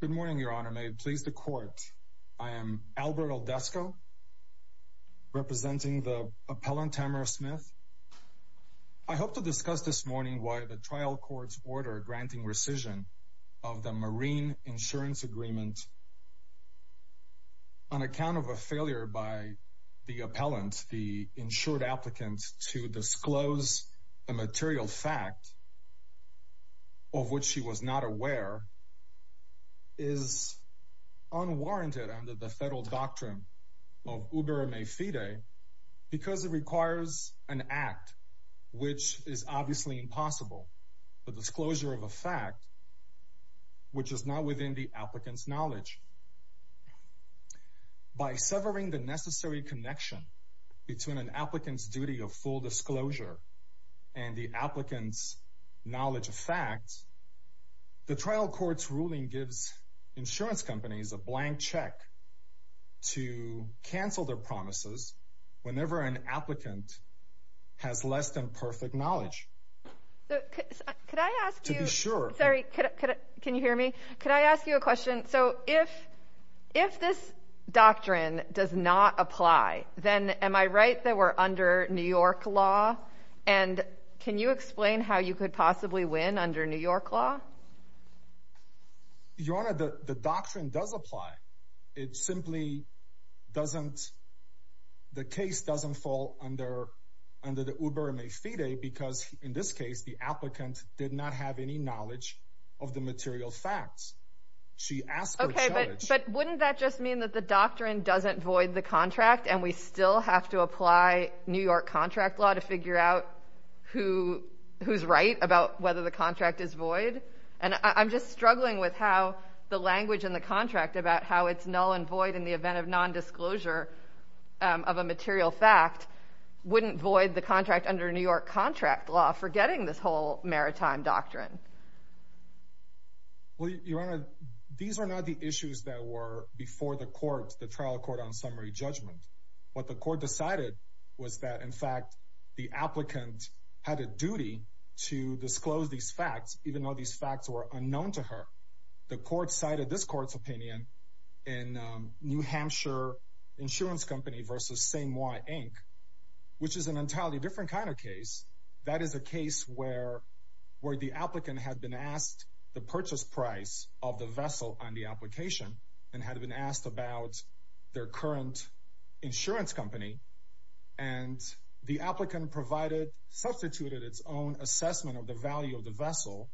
Good morning, Your Honor. May it please the Court. I am Albert Aldesco, representing the appellant Tamara Smith. I hope to discuss this morning why the trial court's order granting rescission of the Marine Insurance Agreement on account of a failure by the appellant, the insured applicant, to disclose a fact is unwarranted under the federal doctrine of uberma fide because it requires an act which is obviously impossible, the disclosure of a fact which is not within the applicant's knowledge. By severing the necessary connection between an applicant's duty of full disclosure and the applicant's knowledge of facts, the trial court's ruling gives insurance companies a blank check to cancel their promises whenever an applicant has less than perfect knowledge. Could I ask you a question? So if this doctrine does not apply, then am I free to explain how you could possibly win under New York law? Your Honor, the doctrine does apply. It simply doesn't, the case doesn't fall under the uberma fide because, in this case, the applicant did not have any knowledge of the material facts. She asked for challenge. Okay, but wouldn't that just mean that the doctrine doesn't void the contract and we still have to apply New York contract law to figure out who who's right about whether the contract is void? And I'm just struggling with how the language in the contract about how it's null and void in the event of non-disclosure of a material fact wouldn't void the contract under New York contract law, forgetting this whole maritime doctrine. Well, Your Honor, these are not the issues that were before the trial court on summary judgment. What the court decided was that, in fact, the applicant had a duty to disclose these facts, even though these facts were unknown to her. The court cited this court's opinion in New Hampshire Insurance Company versus St. Moi, Inc., which is an entirely different kind of case. That is a case where the applicant had a duty to disclose these facts. The applicant had been asked the purchase price of the vessel on the application and had been asked about their current insurance company. And the applicant provided substituted its own assessment of the value of the vessel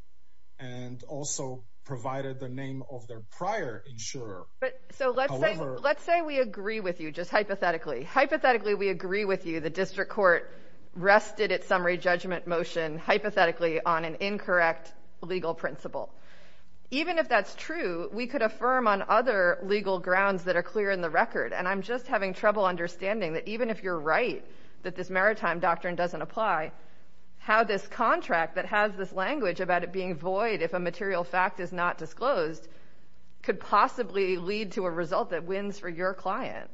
and also provided the name of their prior insurer. But so let's say let's say we agree with you just hypothetically. Hypothetically, we agree with you. The district court rested its summary judgment motion hypothetically on an incorrect legal principle. Even if that's true, we could affirm on other legal grounds that are clear in the record. And I'm just having trouble understanding that even if you're right that this maritime doctrine doesn't apply, how this contract that has this language about it being void, if a material fact is not disclosed, could possibly lead to a non-disclosure of a contract. Could lead to a result that wins for your client.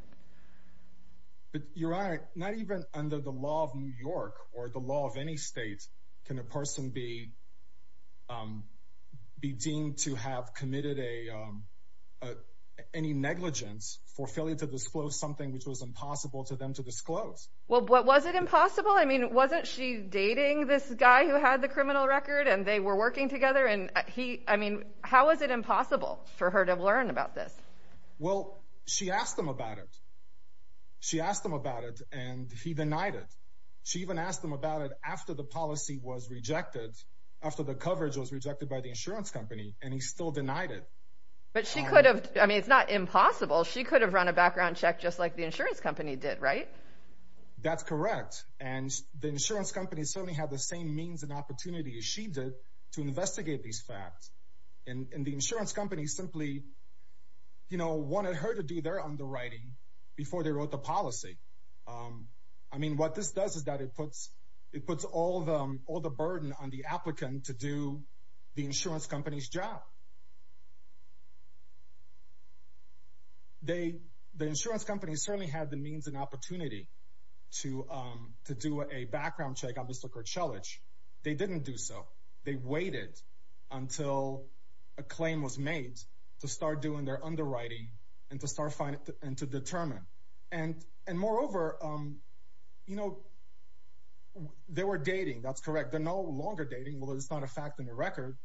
But you're right. Not even under the law of New York or the law of any state can a person be deemed to have committed any negligence for failing to disclose something which was impossible to them to disclose. Well, what was it impossible? I mean, wasn't she dating this guy who had the criminal record and they were working together? And he I mean, how is it impossible for her to learn about this? Well, she asked him about it. She asked him about it and he denied it. She even asked him about it after the policy was rejected after the coverage was rejected by the insurance company. And he still denied it. But she could have. I mean, it's not impossible. She could have run a background check just like the insurance company did. Right. That's correct. And the insurance company certainly had the same means and opportunity as she did to investigate these facts. And the insurance company simply, you know, wanted her to do their underwriting before they wrote the policy. I mean, what this does is that it puts it puts all the all the burden on the applicant to do the insurance company's job. They the insurance company certainly had the means and opportunity to to do a background check on this liquor challenge. They didn't do so. They waited until a claim was made to start doing their underwriting and to start finding and to determine and and moreover, you know, they were dating. That's correct. They're no longer dating. Well, it's not a fact in the record,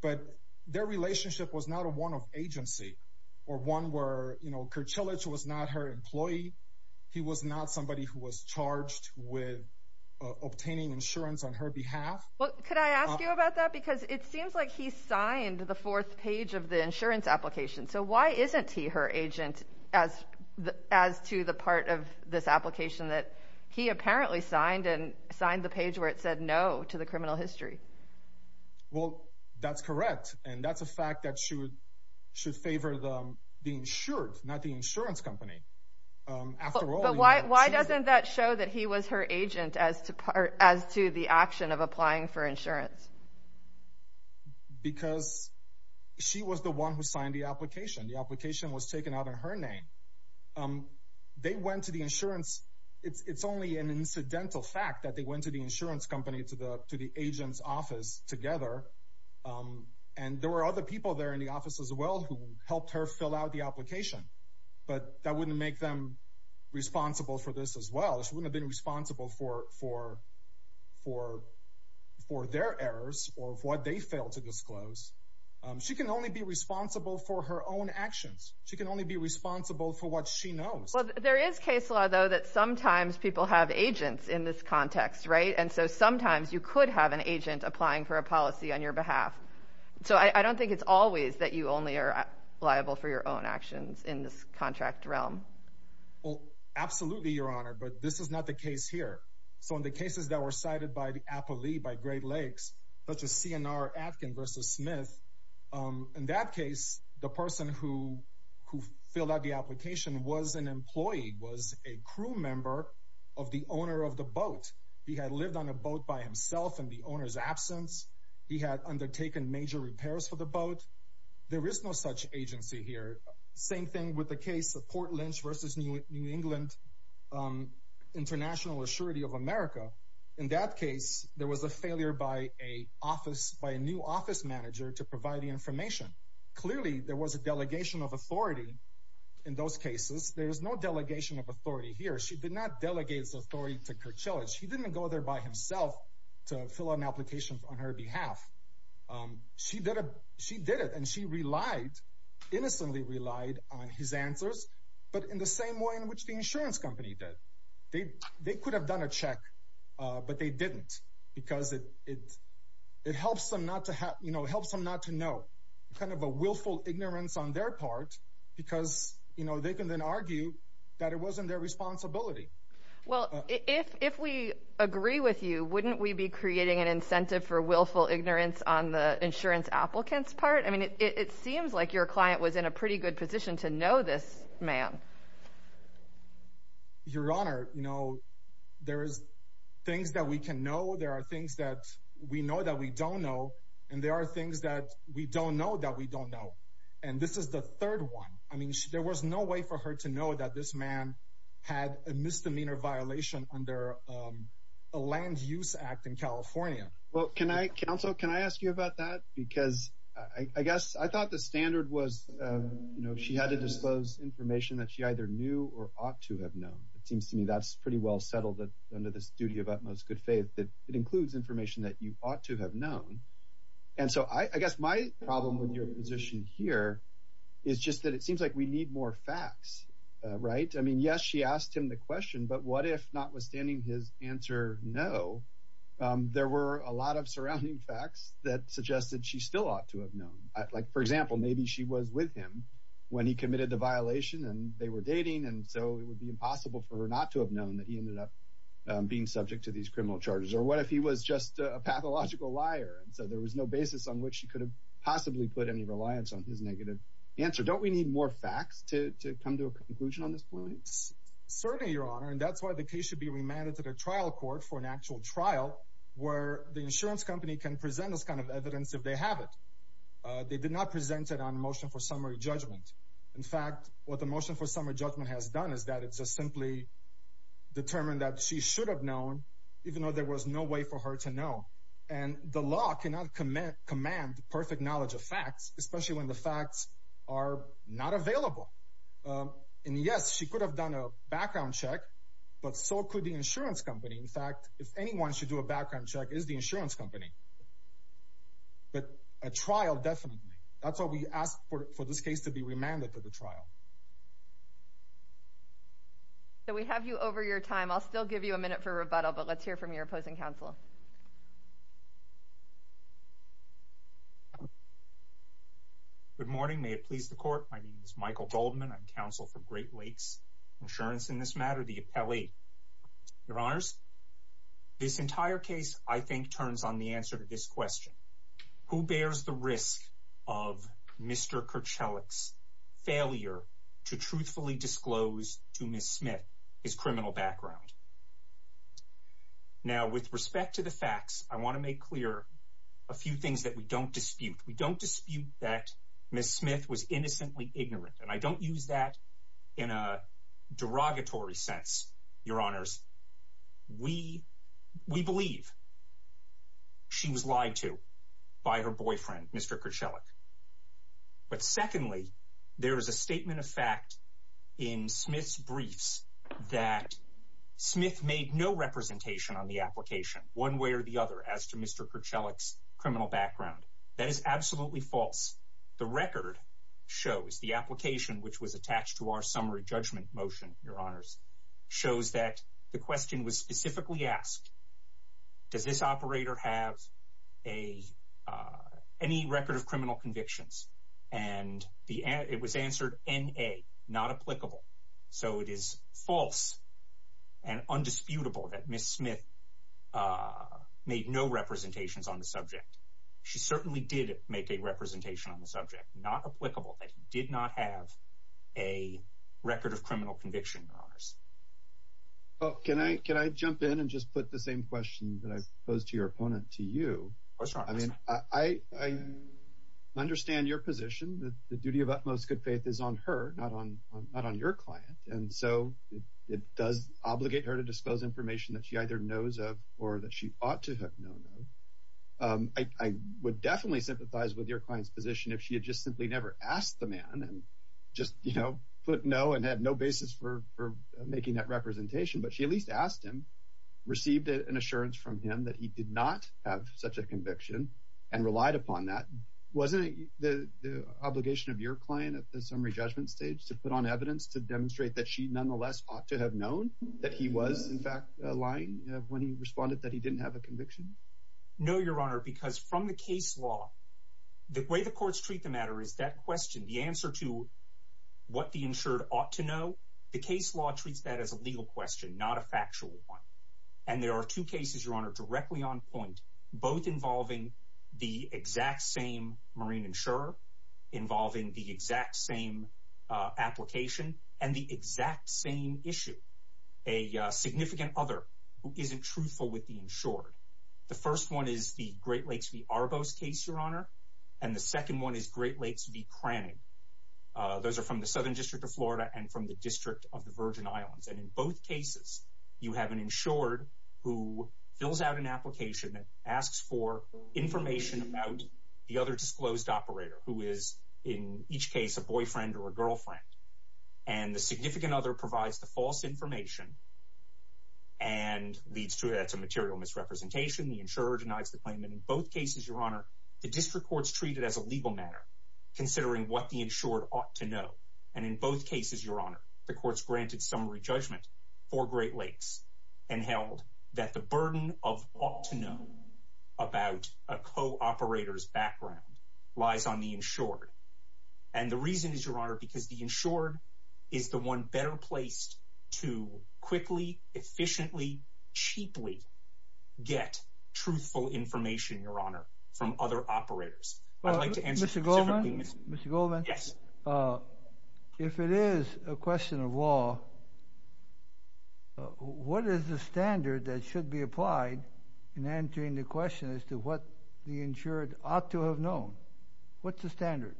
but their relationship was not a one of agency or one where, you know, Kurchilovich was not her employee. He was not somebody who was charged with obtaining insurance on her behalf. Well, could I ask you about that? Because it seems like he signed the fourth page of the insurance application. So why isn't he her agent as as to the part of this application that he apparently signed and signed the page where it said no to the criminal history? Well, that's correct. And that's a fact that should should favor the insured, not the insurance company. After all, why doesn't that show that he was her agent as to as to the action of applying for insurance? Because she was the one who signed the application. The application was taken out in her name. They went to the insurance. It's only an incidental fact that they went to the insurance company, to the agent's office together. And there were other people there in the office as well who helped her fill out the application. But that wouldn't make them responsible for this as well. She wouldn't have been responsible for for for for their errors or what they failed to disclose. She can only be responsible for her own actions. She can only be responsible for what she knows. There is case law, though, that sometimes people have agents in this context. Right. And so sometimes you could have an agent applying for a policy on your behalf. So I don't think it's always that you only are liable for your own actions in this contract realm. Well, absolutely, Your Honor. But this is not the case here. So in the cases that were cited by the Appleby, by Great Lakes, such as CNR, Atkin versus Smith. In that case, the person who who filled out the application was an employee, was a crew member of the owner of the boat. He had lived on a boat by himself in the owner's absence. He had undertaken major repairs for the boat. There is no such agency here. Same thing with the case of Port Lynch versus New England, International Assurity of America. In that case, there was a failure by a office by a new office manager to provide the information. Clearly, there was a delegation of authority in those cases. There is no delegation of authority here. She did not delegate authority to Kirchhoff. She didn't go there by himself to fill out an application on her behalf. She did. She did it. And she relied, innocently relied on his answers. But in the same way in which the insurance company did, they could have done a check, but they didn't, because it helps them not to have, you know, helps them not to know. Kind of a willful ignorance on their part, because, you know, they can then argue that it wasn't their responsibility. Well, if we agree with you, wouldn't we be creating an incentive for willful ignorance on the insurance applicant's part? I mean, it seems like your client was in a pretty good position to know this man. Your Honor, you know, there is things that we can know. There are things that we know that we don't know. And there are things that we don't know that we don't know. And this is the third one. I mean, there was no way for her to know that this man had a misdemeanor violation under a Land Use Act in California. Well, can I, counsel, can I ask you about that? Because I guess I thought the standard was, you know, she had to dispose information that she either knew or ought to have known. It seems to me that's pretty well settled under this duty of utmost good faith that it includes information that you ought to have known. And so I guess my problem with your position here is just that it seems like we need more facts, right? I mean, yes, she asked him the question, but what if, notwithstanding his answer no, there were a lot of surrounding facts that suggested she still ought to have known. Like, for example, maybe she was with him when he committed the violation and they were dating. And so it would be impossible for her not to have known that he ended up being subject to these criminal charges. Or what if he was just a pathological liar? And so there was no basis on which she could have possibly put any reliance on his negative answer. Don't we need more facts to come to a conclusion on this point? Certainly, Your Honor. And that's why the case should be remanded to the trial court for an actual trial where the insurance company can present this kind of evidence if they have it. They did not present it on motion for summary judgment. In fact, what the motion for summary judgment has done is that it's just simply determined that she should have known, even though there was no way for her to know. And the law cannot command perfect knowledge of facts, especially when the facts are not available. And yes, she could have done a background check, but so could the insurance company. In fact, if anyone should do a background check, it is the insurance company. But a trial, definitely. That's why we asked for this case to be remanded to the trial. So we have you over your time. I'll still give you a minute for rebuttal, but let's hear from your opposing counsel. Good morning. May it please the court. My name is Michael Goldman. I'm counsel for Great Lakes Insurance in this matter, the appellee. Your honors, this entire case, I think, turns on the answer to this question. Who bears the risk of Mr. Kerchelik's failure to truthfully disclose to Miss Smith his criminal background? Now, with respect to the facts, I want to make clear a few things that we don't dispute. We don't use that in a derogatory sense, your honors. We believe she was lied to by her boyfriend, Mr. Kerchelik. But secondly, there is a statement of fact in Smith's briefs that Smith made no representation on the application, one way or the other, as to Mr. Kerchelik's criminal background. That is absolutely false. The record shows, the application, which was attached to our summary judgment motion, your honors, shows that the question was specifically asked, does this operator have any record of criminal convictions? And it was answered N-A, not applicable. So it is false and undisputable that Miss Smith made no representations on the application. But she certainly did make a representation on the subject, not applicable, that he did not have a record of criminal conviction, your honors. Well, can I jump in and just put the same question that I posed to your opponent to you? Of course, your honors. I mean, I understand your position, that the duty of utmost good faith is on her, not on your client. And so it does obligate her to disclose information that she either knows of or that she ought to have known of. I would definitely sympathize with your client's position if she had just simply never asked the man and just, you know, put no and had no basis for making that representation. But she at least asked him, received an assurance from him that he did not have such a conviction and relied upon that. Wasn't it the obligation of your client at the summary judgment stage to put on evidence to demonstrate that she nonetheless ought to have known that he was, in fact, lying when he responded that he didn't have a conviction? No, your honor, because from the case law, the way the courts treat the matter is that question, the answer to what the insured ought to know. The case law treats that as a legal question, not a factual one. And there are two cases, your honor, directly on point, both involving the exact same marine insurer, involving the exact same application and the exact same issue. A significant other who isn't truthful with the insured. The first one is the Great Lakes v. Arbos case, your honor. And the second one is Great Lakes v. Cranning. Those are from the Southern District of Florida and from the District of the Virgin Islands. And in both cases, you have an insured who fills out an application and asks for information about the other disclosed operator who is in each case a boyfriend or a girlfriend. And the significant other provides the false information and leads to that's a material misrepresentation. The insurer denies the claim. And in both cases, your honor, the district courts treat it as a legal matter, considering what the insured ought to know. And in both cases, your honor, the courts granted summary judgment for Great Lakes and held that the burden of ought to know about a co-operator's background lies on the insured. And the reason is, your honor, because the insured is the one better placed to quickly, efficiently, cheaply get truthful information, your honor, from other operators. I'd like to answer specifically. Mr. Goldman, if it is a question of law, what is the standard that should be applied in answering the question as to what the insured ought to have known? What's the standard?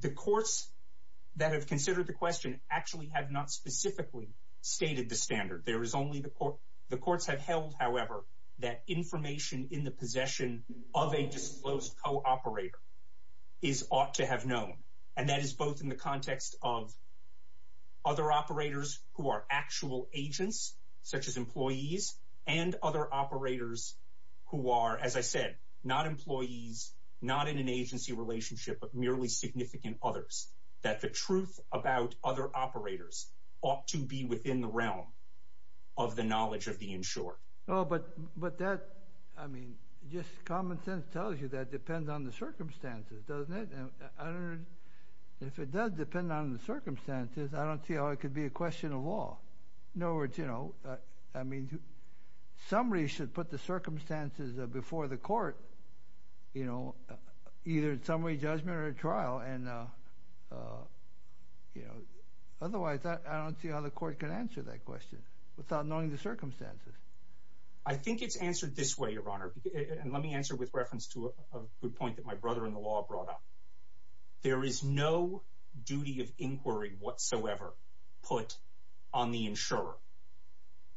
The courts that have considered the question actually have not specifically stated the standard. There is only the court. The courts have held, however, that information in the possession of a disclosed co-operator is ought to have known. And that is both in the context of other operators who are actual agents, such as employees, and other employees not in an agency relationship, but merely significant others. That the truth about other operators ought to be within the realm of the knowledge of the insured. No, but that, I mean, just common sense tells you that depends on the circumstances, doesn't it? If it does depend on the circumstances, I don't see how it could be a question of law. No, it's, you know, I mean, somebody should put the circumstances before the court, you know, either in summary judgment or trial and, you know, otherwise I don't see how the court can answer that question without knowing the circumstances. I think it's answered this way, your honor, and let me answer with reference to a good point that my brother-in-law brought up. There is no duty of inquiry whatsoever put on the insurer.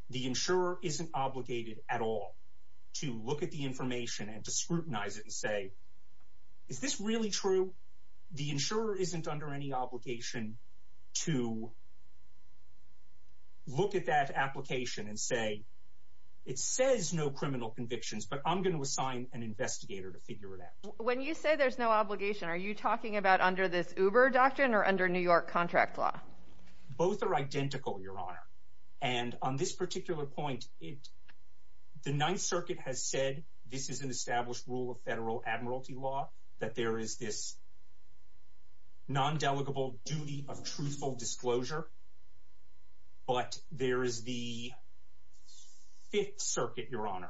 The insurer isn't obligated at all to look at the information and to scrutinize it and say, is this really true? The insurer isn't under any obligation to look at that application and say, it says no criminal convictions, but I'm going to assign an investigator to figure it out. When you say there's no obligation, are you talking about under this Uber doctrine or under New York contract law? Both are identical, your honor, and on this particular point, the Ninth Circuit has said this is an established rule of federal admiralty law, that there is this non-delegable duty of truthful disclosure, but there is the Fifth Circuit, your honor.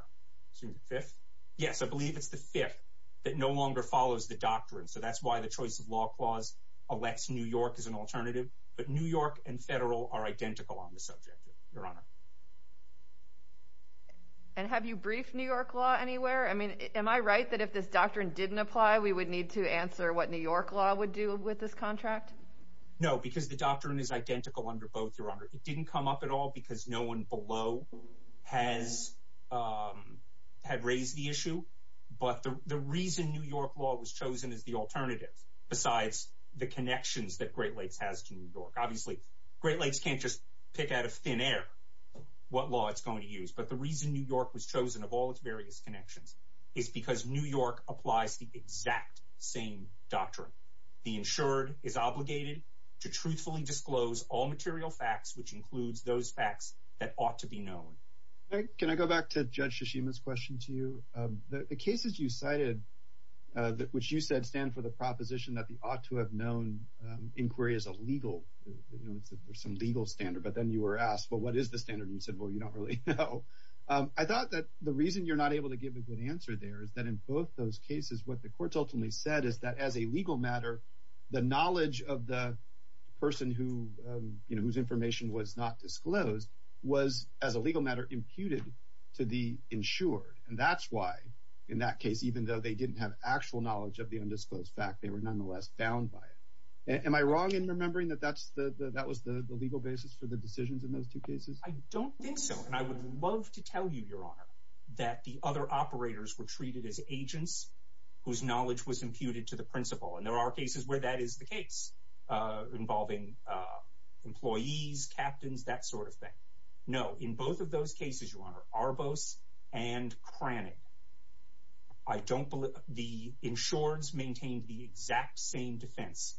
Excuse me, fifth? Yes, I believe it's the fifth that no longer follows the doctrine, so that's why the choice of law clause elects New York as an alternative, but New York and federal are identical on the subject, your honor. And have you briefed New York law anywhere? I mean, am I right that if this doctrine didn't apply, we would need to answer what New York law would do with this contract? No, because the doctrine is identical under both, your honor. It didn't come up at all because no one below had raised the issue, but the reason New York law was chosen as the alternative, besides the connections that Great Lakes has to New York. Obviously, Great Lakes can't just pick out of thin air what law it's going to use, but the reason New York was chosen, of all its various connections, is because New York applies the exact same doctrine. The insured is obligated to truthfully disclose all material facts, which includes those facts that ought to be known. All right. Can I go back to Judge Shishima's question to you? The cases you cited, which you said stand for the proposition that the ought to have known inquiry is a legal, you know, there's some legal standard, but then you were asked, well, what is the standard? And you said, well, you don't really know. I thought that the reason you're not able to give a good answer there is that in both those cases, what the courts ultimately said is that as a legal matter, the knowledge of the person whose information was not disclosed was, as a legal matter, imputed to the insured. And that's why, in that case, even though they didn't have actual knowledge of the undisclosed fact, they were nonetheless found by it. Am I wrong in remembering that that was the legal basis for the decisions in those two cases? I don't think so. And I would love to tell you, Your Honor, that the other operators were treated as agents whose knowledge was imputed to the principal. And there are cases where that is the case involving employees, captains, that sort of thing. No, in both of those cases, Your Honor, Arbos and Cranig, I don't believe the insureds maintained the exact same defense,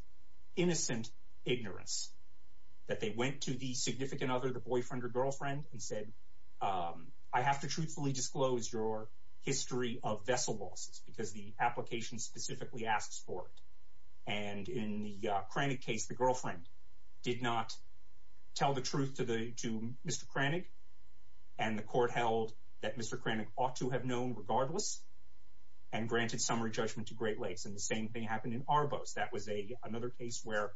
innocent ignorance that they went to the significant other, the boyfriend or girlfriend and said, I have to truthfully disclose your history of vessel losses because the application specifically asks for it. And in the Cranig case, the girlfriend did not tell the truth to Mr. Cranig. And the court held that Mr. Cranig ought to have known regardless and granted summary judgment to Great Lakes. And the same thing happened in Arbos. That was another case where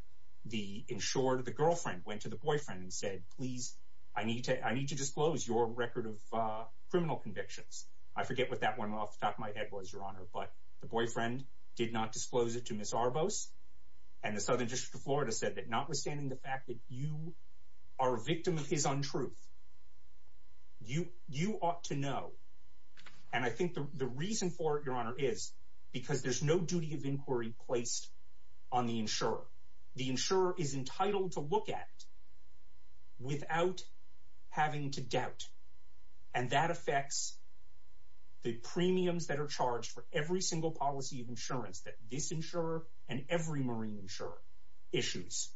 the insured, the girlfriend, went to the boyfriend and said, please, I need to disclose your record of criminal convictions. I forget what that one off the top of my head was, but the boyfriend did not disclose it to Ms. Arbos. And the Southern District of Florida said that notwithstanding the fact that you are a victim of his untruth, you ought to know. And I think the reason for it, Your Honor, is because there's no duty of inquiry placed on the insurer. The insurer is entitled to look at it without having to doubt. And that affects the premiums that are charged for every single policy of insurance that this insurer and every marine insurer issues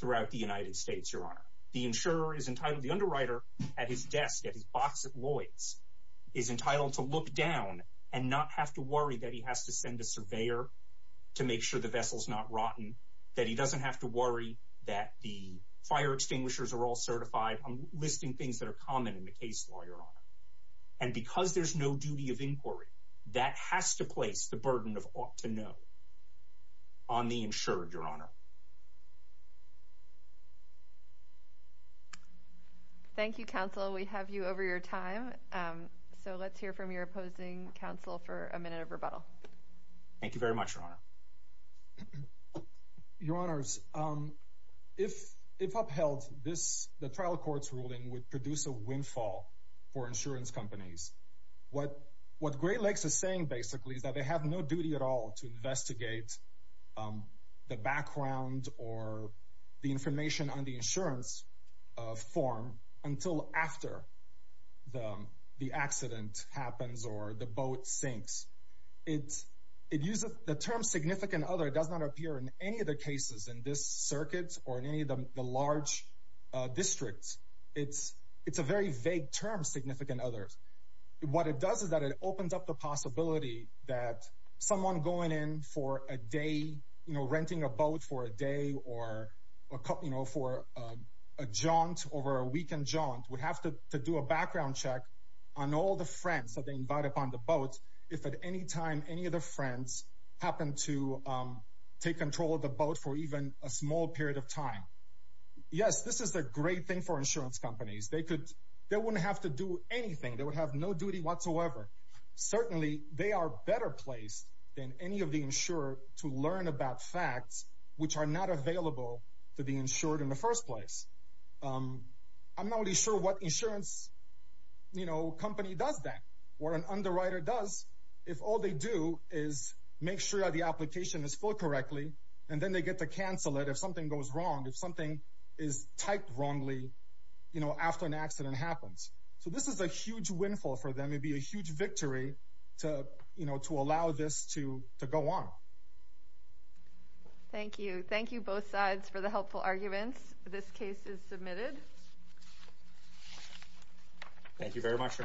throughout the United States, Your Honor. The insurer is entitled, the underwriter, at his desk, at his box at Lloyd's, is entitled to look down and not have to worry that he has to send a surveyor to make sure the vessel's not rotten, that he doesn't have to worry that the fire extinguishers are all certified. I'm listing things that are common in because there's no duty of inquiry that has to place the burden of ought to know on the insured, Your Honor. Thank you, counsel. We have you over your time, so let's hear from your opposing counsel for a minute of rebuttal. Thank you very much, Your Honor. Your Honors, if upheld, the trial court's ruling would produce a windfall for insurance companies. What Great Lakes is saying, basically, is that they have no duty at all to investigate the background or the information on the insurance form until after the accident happens or the boat sinks. The term significant other does not appear in any of the cases in this circuit or in any of the large districts. It's a very vague term, significant others. What it does is that it opens up the possibility that someone going in for a day, you know, renting a boat for a day or a couple, you know, for a jaunt over a weekend jaunt would have to do a background check on all the friends that they invited upon the boat if at any time any of the friends happen to take control of the boat for even a small period of time. Yes, this is a great thing for insurance companies. They wouldn't have to do anything. They would have no duty whatsoever. Certainly, they are better placed than any of the insurer to learn about facts which are not available to the insured in the first place. I'm not really sure what insurance, you know, what an underwriter does if all they do is make sure that the application is filled correctly and then they get to cancel it if something goes wrong, if something is typed wrongly, you know, after an accident happens. So this is a huge windfall for them. It'd be a huge victory to, you know, to allow this to go on. Thank you. Thank you both sides for the helpful arguments. This case is submitted. Thank you very much.